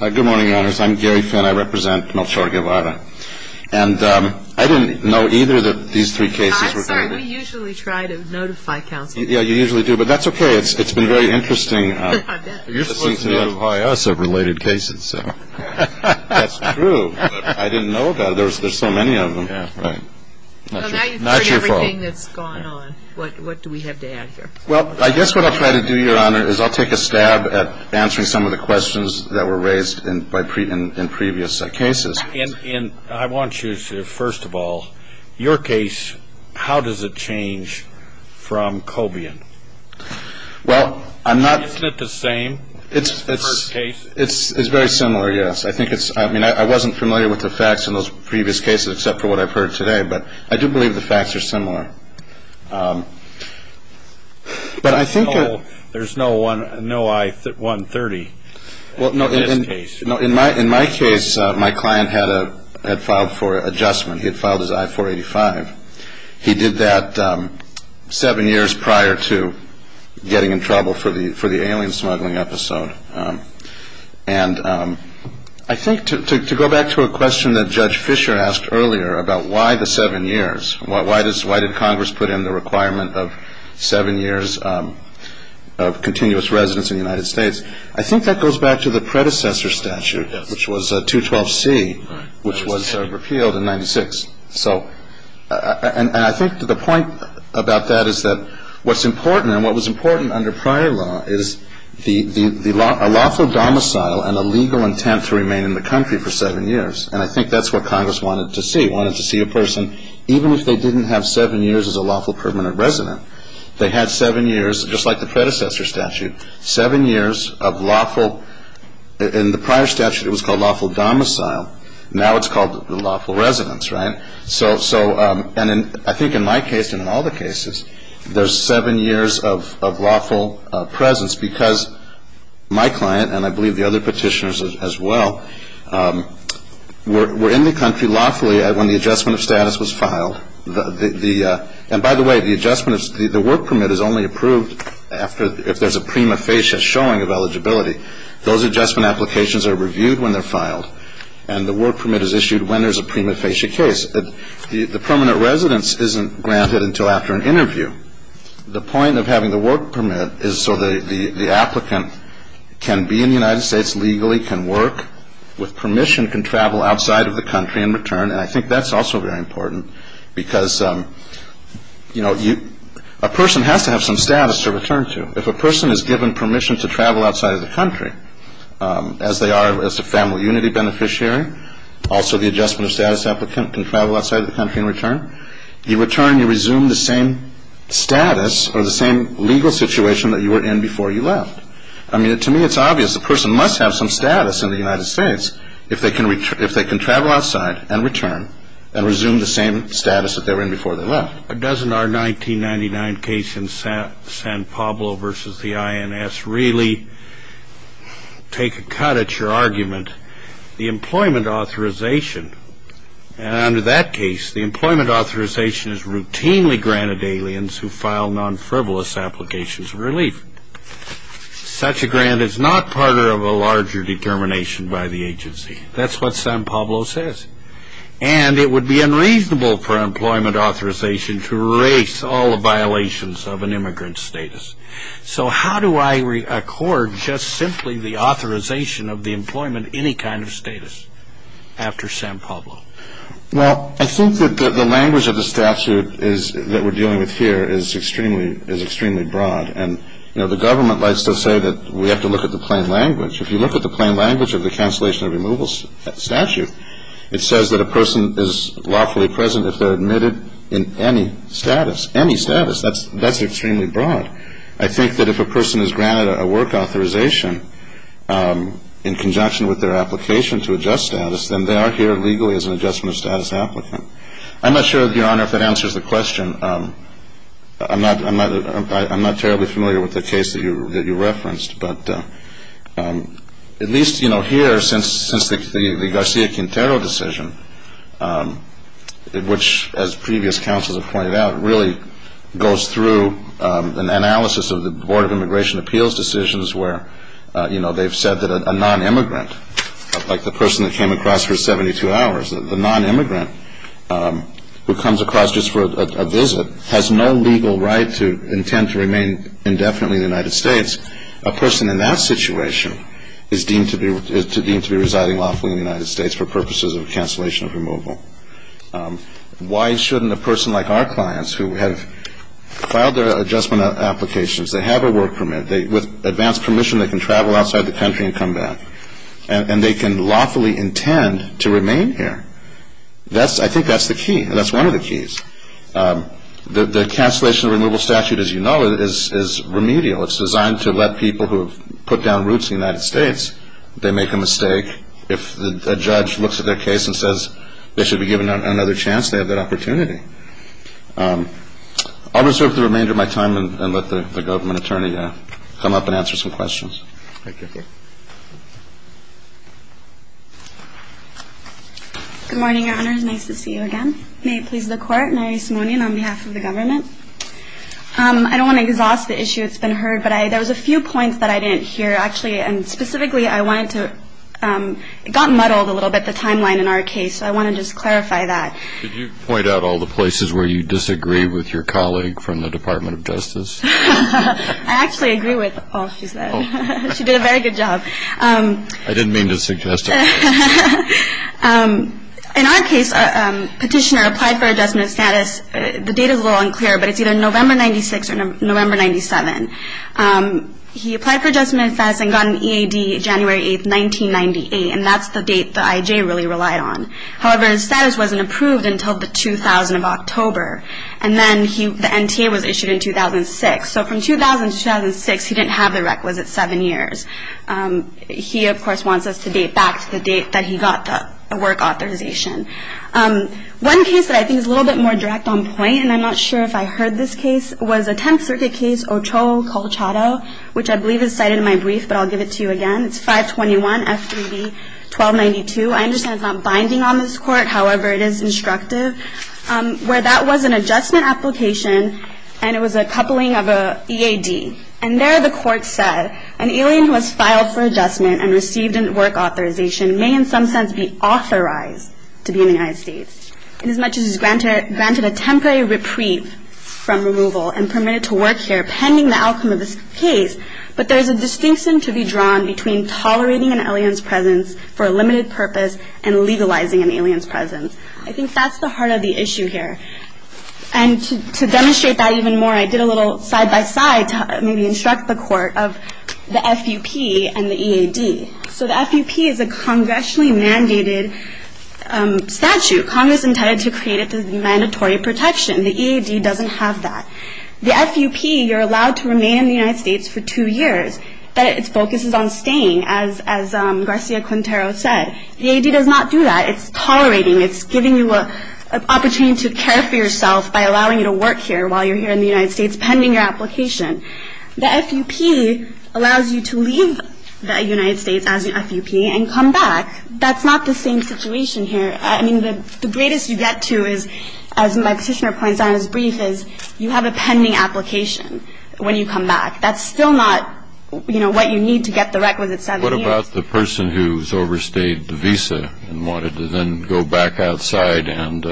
Good morning, Your Honors. I'm Gary Finn. I represent Melchor Guevara. And I didn't know either that these three cases were going to be- I'm sorry. We usually try to notify counsel. Yeah, you usually do, but that's okay. It's been very interesting- You're supposed to notify us of related cases, so- That's true, but I didn't know that. There's so many of them. Yeah, right. Not your fault. Well, now you've heard everything that's gone on. What do we have to add here? Well, I guess what I'll try to do, Your Honor, is I'll take a stab at answering some of the questions that were raised in previous cases. And I want you to, first of all, your case, how does it change from Cobian? Well, I'm not- Isn't it the same? It's very similar, yes. I think it's- I mean, I wasn't familiar with the facts in those previous cases, except for what I've heard today, but I do believe the facts are similar. But I think- No, there's no I-130 in this case. Well, no, in my case, my client had filed for adjustment. He had filed his I-485. He did that seven years prior to getting in trouble for the alien smuggling episode. And I think, to go back to a question that Judge Fisher asked earlier about why the seven years, why did Congress put in the requirement of seven years of continuous residence in the United States, I think that goes back to the predecessor statute, which was 212C, which was repealed in 96. And I think the point about that is that what's important, and what was important under prior law, is a lawful domicile and a legal intent to remain in the country for seven years. And I think that's what Congress wanted to see. It wanted to see a person, even if they didn't have seven years as a lawful permanent resident. They had seven years, just like the predecessor statute, seven years of lawful- In the prior statute, it was called lawful domicile. Now it's called lawful residence, right? And I think in my case, and in all the cases, there's seven years of lawful presence because my client, and I believe the other petitioners as well, were in the country lawfully when the adjustment of status was filed. And by the way, the adjustment, the work permit is only approved if there's a prima facie showing of eligibility. Those adjustment applications are reviewed when they're filed, and the work permit is issued when there's a prima facie case. The permanent residence isn't granted until after an interview. The point of having the work permit is so the applicant can be in the United States legally, can work with permission, can travel outside of the country and return. And I think that's also very important because, you know, a person has to have some status to return to. If a person is given permission to travel outside of the country, as they are as a family unity beneficiary, also the adjustment of status applicant can travel outside of the country and return. You return, you resume the same status or the same legal situation that you were in before you left. I mean, to me it's obvious a person must have some status in the United States if they can travel outside and return and resume the same status that they were in before they left. But doesn't our 1999 case in San Pablo versus the INS really take a cut at your argument? The employment authorization, under that case, the employment authorization is routinely granted to aliens who file non-frivolous applications of relief. Such a grant is not part of a larger determination by the agency. That's what San Pablo says. And it would be unreasonable for employment authorization to erase all the violations of an immigrant's status. So how do I accord just simply the authorization of the employment any kind of status after San Pablo? Well, I think that the language of the statute that we're dealing with here is extremely broad. And, you know, the government likes to say that we have to look at the plain language. If you look at the plain language of the cancellation of removal statute, it says that a person is lawfully present if they're admitted in any status. Any status, that's extremely broad. I think that if a person is granted a work authorization in conjunction with their application to adjust status, then they are here legally as an adjustment of status applicant. I'm not sure, Your Honor, if that answers the question. I'm not terribly familiar with the case that you referenced. But at least, you know, here, since the Garcia Quintero decision, which, as previous counsels have pointed out, really goes through an analysis of the Board of Immigration Appeals decisions where, you know, they've said that a nonimmigrant, like the person that came across for 72 hours, the nonimmigrant who comes across just for a visit has no legal right to intend to remain indefinitely in the United States. A person in that situation is deemed to be residing lawfully in the United States for purposes of cancellation of removal. Why shouldn't a person like our clients who have filed their adjustment applications, they have a work permit, with advanced permission they can travel outside the country and come back, and they can lawfully intend to remain here? I think that's the key. That's one of the keys. The cancellation of removal statute, as you know, is remedial. It's designed to let people who have put down roots in the United States, if they make a mistake, if a judge looks at their case and says they should be given another chance, they have that opportunity. I'll reserve the remainder of my time and let the government attorney come up and answer some questions. Thank you. Good morning, Your Honors. Nice to see you again. May it please the Court. Mary Simonian on behalf of the government. I don't want to exhaust the issue. It's been heard. But there was a few points that I didn't hear, actually. And specifically, I wanted to, it got muddled a little bit, the timeline in our case. So I want to just clarify that. Did you point out all the places where you disagree with your colleague from the Department of Justice? I actually agree with all she said. She did a very good job. I didn't mean to suggest it. In our case, a petitioner applied for adjustment of status. The date is a little unclear, but it's either November 96 or November 97. He applied for adjustment of status and got an EAD January 8, 1998. And that's the date the IJ really relied on. However, his status wasn't approved until the 2000 of October. And then the NTA was issued in 2006. So from 2000 to 2006, he didn't have the requisite seven years. He, of course, wants us to date back to the date that he got the work authorization. One case that I think is a little bit more direct on point, and I'm not sure if I heard this case, was a Tenth Circuit case, Ochoa-Colchado, which I believe is cited in my brief, but I'll give it to you again. It's 521 F3B 1292. I understand it's not binding on this court. However, it is instructive. Where that was an adjustment application, and it was a coupling of an EAD. And there the court said, an alien who has filed for adjustment and received a work authorization may in some sense be authorized to be in the United States, inasmuch as it is granted a temporary reprieve from removal and permitted to work here pending the outcome of this case. But there is a distinction to be drawn between tolerating an alien's presence for a limited purpose and legalizing an alien's presence. I think that's the heart of the issue here. And to demonstrate that even more, I did a little side-by-side to maybe instruct the court of the FUP and the EAD. So the FUP is a congressionally mandated statute. Congress intended to create it as mandatory protection. The EAD doesn't have that. The FUP, you're allowed to remain in the United States for two years, but its focus is on staying, as Garcia-Quintero said. The EAD does not do that. It's tolerating. It's giving you an opportunity to care for yourself by allowing you to work here while you're here in the United States, pending your application. The FUP allows you to leave the United States as an FUP and come back. That's not the same situation here. I mean, the greatest you get to is, as my petitioner points out in his brief, is you have a pending application when you come back. That's still not, you know, what you need to get the requisite seven years. What about the person who's overstayed the visa and wanted to then go back outside and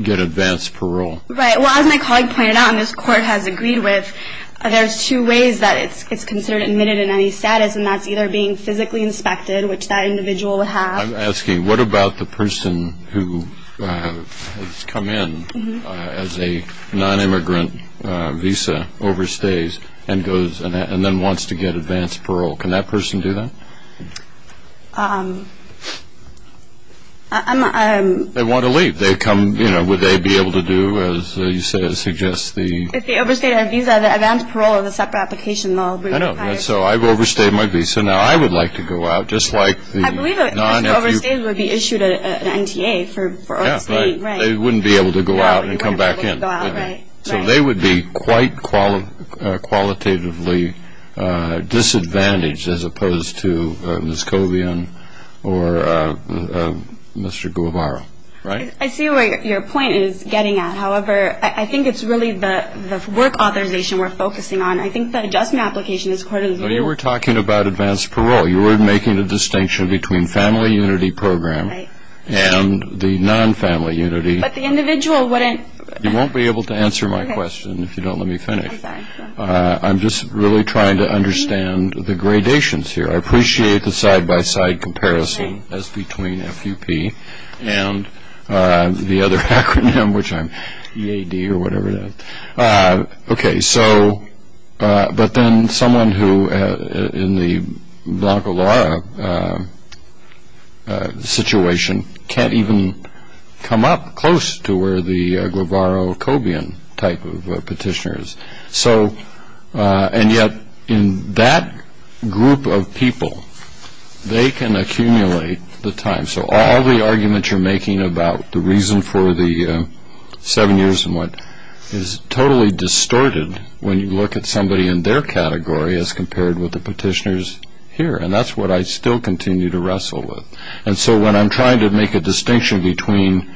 get advanced parole? Right. Well, as my colleague pointed out, and this Court has agreed with, there's two ways that it's considered admitted in any status, and that's either being physically inspected, which that individual would have. I'm asking, what about the person who has come in as a non-immigrant visa, overstays, and then wants to get advanced parole? Can that person do that? They want to leave. Would they be able to do, as you said, as suggested? If they overstayed their visa, the advanced parole is a separate application. I know. So I've overstayed my visa. Now, I would like to go out, just like the non-immigrants. I believe overstays would be issued an NTA for overstaying. Yeah, right. They wouldn't be able to go out and come back in. Right. So they would be quite qualitatively disadvantaged as opposed to Ms. Cobian or Mr. Guevara, right? I see where your point is getting at. However, I think it's really the work authorization we're focusing on. I think that adjustment application, this Court has agreed with. But you were talking about advanced parole. You were making the distinction between family unity program and the non-family unity. But the individual wouldn't. You won't be able to answer my question if you don't let me finish. I'm sorry. I'm just really trying to understand the gradations here. I appreciate the side-by-side comparison as between FUP and the other acronym, which I'm EAD or whatever it is. Okay. But then someone who in the Blanco Lara situation can't even come up close to where the Guevara or Cobian type of petitioner is. And yet in that group of people, they can accumulate the time. So all the arguments you're making about the reason for the seven years and what is totally distorted when you look at somebody in their category as compared with the petitioners here. And that's what I still continue to wrestle with. And so when I'm trying to make a distinction between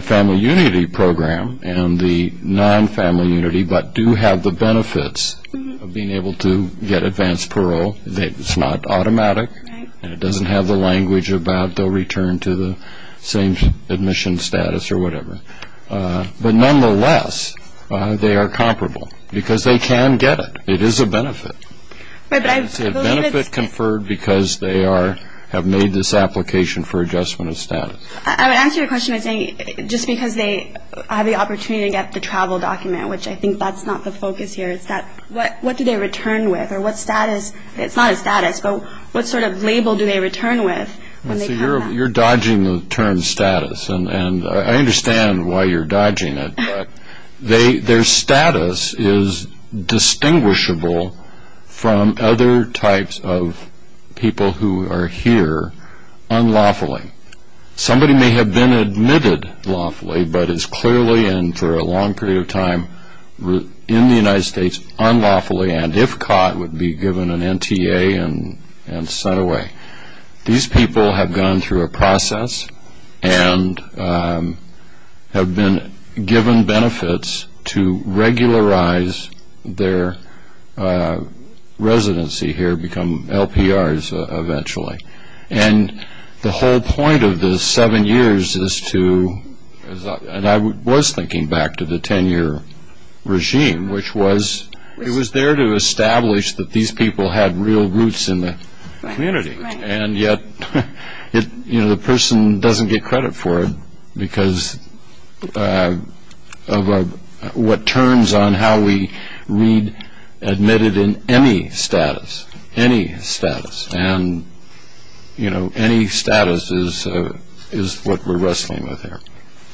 family unity program and the non-family unity but do have the benefits of being able to get advanced parole, it's not automatic and it doesn't have the language about they'll return to the same admission status or whatever. But nonetheless, they are comparable because they can get it. It is a benefit. It's a benefit conferred because they have made this application for adjustment of status. I would answer your question by saying just because they have the opportunity to get the travel document, which I think that's not the focus here, it's that what do they return with or what status? It's not a status, but what sort of label do they return with? You're dodging the term status, and I understand why you're dodging it. Their status is distinguishable from other types of people who are here unlawfully. Somebody may have been admitted lawfully but is clearly and for a long period of time in the United States unlawfully and if caught would be given an NTA and sent away. These people have gone through a process and have been given benefits to regularize their residency here, become LPRs eventually. And the whole point of the seven years is to, and I was thinking back to the ten-year regime, which was it was there to establish that these people had real roots in the community. And yet the person doesn't get credit for it because of what turns on how we read admitted in any status, any status. And, you know, any status is what we're wrestling with here,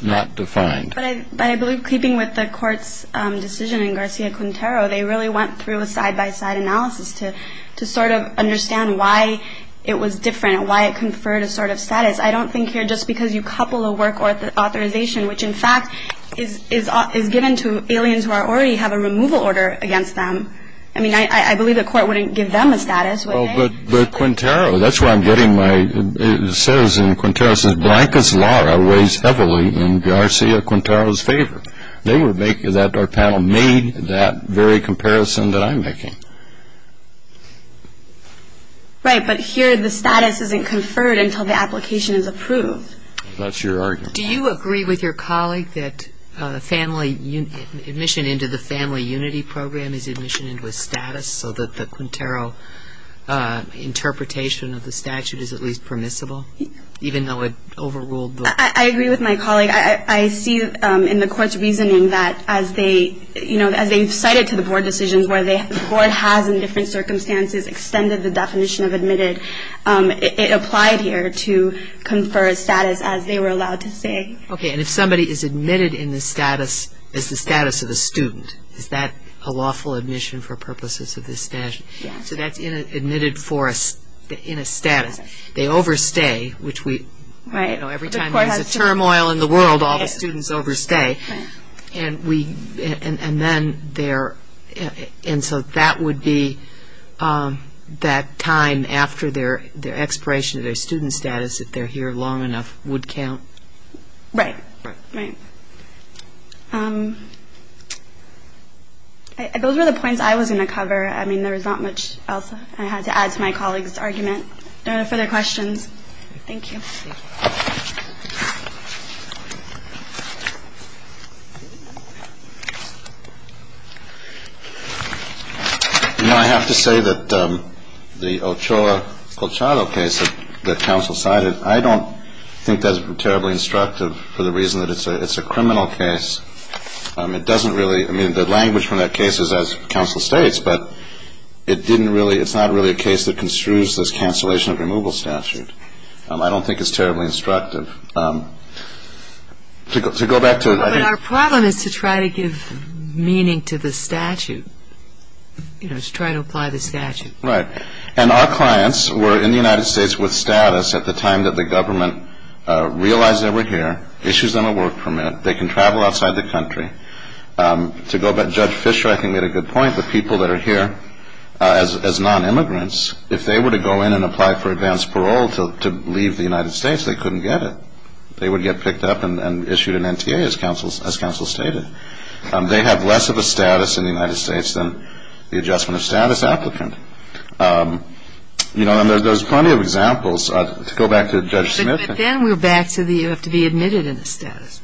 not defined. But I believe keeping with the court's decision in Garcia-Quintero, they really went through a side-by-side analysis to sort of understand why it was different, why it conferred a sort of status. I don't think here just because you couple a work authorization, which in fact is given to aliens who already have a removal order against them. I mean, I believe the court wouldn't give them a status, would they? Well, but Quintero, that's why I'm getting my, it says in Quintero, it says Blanca's Laura weighs heavily in Garcia-Quintero's favor. They would make that our panel made that very comparison that I'm making. Right, but here the status isn't conferred until the application is approved. That's your argument. Do you agree with your colleague that admission into the Family Unity Program is admission into a status so that the Quintero interpretation of the statute is at least permissible, even though it overruled the- I agree with my colleague. I see in the court's reasoning that as they, you know, as they've cited to the board decisions where the board has in different circumstances extended the definition of admitted, it applied here to confer a status as they were allowed to say. Okay, and if somebody is admitted in the status as the status of a student, is that a lawful admission for purposes of this statute? Yes. So that's admitted in a status. They overstay, which we, you know, every time there's a turmoil in the world, all the students overstay, and we, and then they're, and so that would be that time after their expiration of their student status if they're here long enough would count? Right. Right. Those were the points I was going to cover. I mean, there was not much else I had to add to my colleague's argument. No further questions. Thank you. You know, I have to say that the Ochoa Colchado case that counsel cited, I don't think that's terribly instructive for the reason that it's a criminal case. It doesn't really, I mean, the language from that case is as counsel states, but it didn't really, it's not really a case that construes this cancellation of removal statute. I don't think it's terribly instructive. To go back to. But our problem is to try to give meaning to the statute, you know, to try to apply the statute. Right. And our clients were in the United States with status at the time that the government realized they were here, issues them a work permit, they can travel outside the country. To go back, Judge Fisher, I think, made a good point. The people that are here as non-immigrants, if they were to go in and apply for advanced parole to leave the United States, they couldn't get it. They would get picked up and issued an NTA, as counsel stated. They have less of a status in the United States than the adjustment of status applicant. You know, and there's plenty of examples. To go back to Judge Smith. But then we're back to the, you have to be admitted in the status.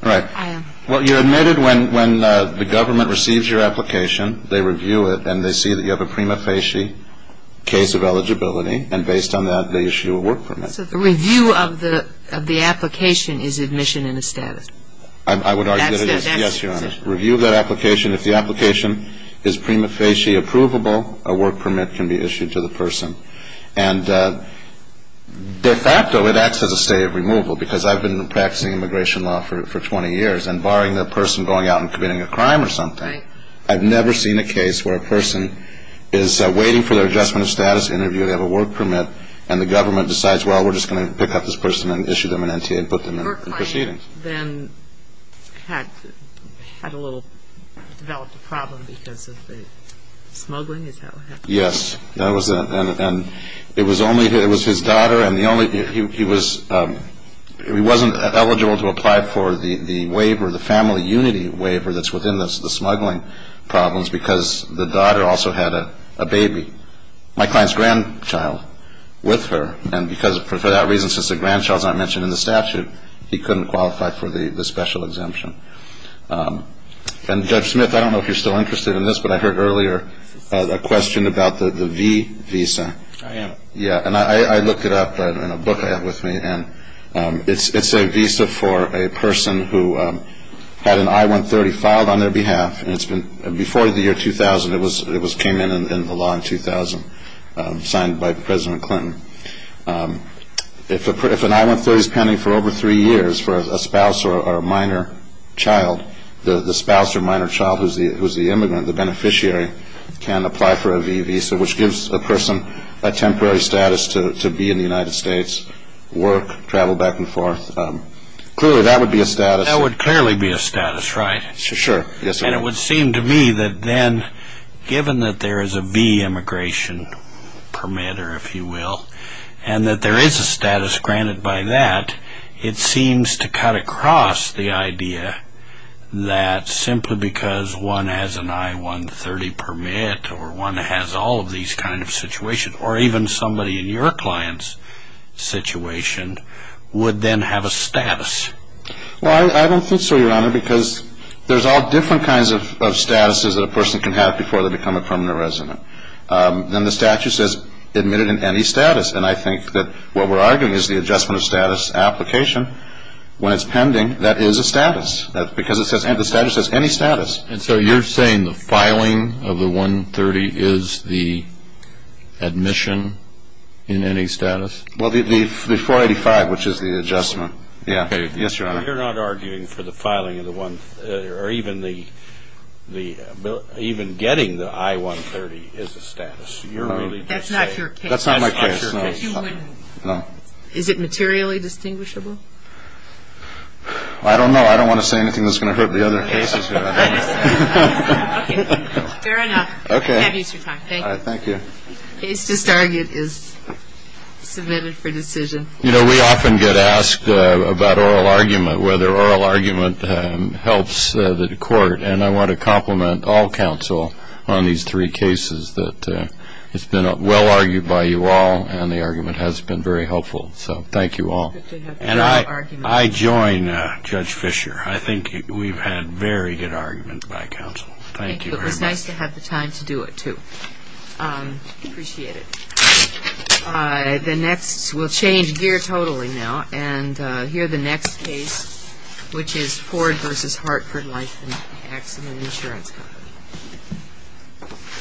Right. I am. Well, you're admitted when the government receives your application. They review it, and they see that you have a prima facie case of eligibility, and based on that, they issue a work permit. So the review of the application is admission in the status. I would argue that it is. Yes, Your Honor. Review of that application. If the application is prima facie approvable, a work permit can be issued to the person. And de facto, it acts as a stay of removal because I've been practicing immigration law for 20 years, and barring the person going out and committing a crime or something, I've never seen a case where a person is waiting for their adjustment of status interview, they have a work permit, and the government decides, well, we're just going to pick up this person and issue them an NTA and put them in proceedings. Your client then had a little, developed a problem because of the smuggling? Is that what happened? Yes. And it was only, it was his daughter, and the only, he was, he wasn't eligible to apply for the waiver, the family unity waiver, that's within the smuggling problems because the daughter also had a baby. My client's grandchild with her, and because, for that reason, since the grandchild's not mentioned in the statute, he couldn't qualify for the special exemption. And Judge Smith, I don't know if you're still interested in this, but I heard earlier a question about the V visa. I am. Yeah, and I looked it up in a book I have with me, and it's a visa for a person who had an I-130 filed on their behalf, and it's been, before the year 2000, it came in the law in 2000, signed by President Clinton. If an I-130's pending for over three years for a spouse or a minor child, the spouse or minor child who's the immigrant, the beneficiary, can apply for a V visa, which gives a person a temporary status to be in the United States, work, travel back and forth. Clearly, that would be a status. That would clearly be a status, right? Sure. Yes, sir. And it would seem to me that then, given that there is a V immigration permit, or if you will, and that there is a status granted by that, it seems to cut across the idea that simply because one has an I-130 permit or one has all of these kind of situations, or even somebody in your client's situation, would then have a status. Well, I don't think so, Your Honor, because there's all different kinds of statuses that a person can have before they become a permanent resident. Then the statute says admitted in any status, and I think that what we're arguing is the adjustment of status application. When it's pending, that is a status, because the statute says any status. And so you're saying the filing of the I-130 is the admission in any status? Well, the 485, which is the adjustment. Yes, Your Honor. You're not arguing for the filing of the one, or even getting the I-130 is a status. That's not your case. That's not my case. But you wouldn't. No. Is it materially distinguishable? I don't know. I don't want to say anything that's going to hurt the other cases. Okay. Fair enough. Okay. Have your time. Thank you. All right. Thank you. Case to target is submitted for decision. You know, we often get asked about oral argument, whether oral argument helps the court, and I want to compliment all counsel on these three cases. It's been well-argued by you all, and the argument has been very helpful. So thank you all. And I join Judge Fisher. I think we've had very good arguments by counsel. Thank you very much. It was nice to have the time to do it, too. Appreciate it. The next we'll change gear totally now. And here the next case, which is Ford v. Hartford Life and Accident Insurance Company.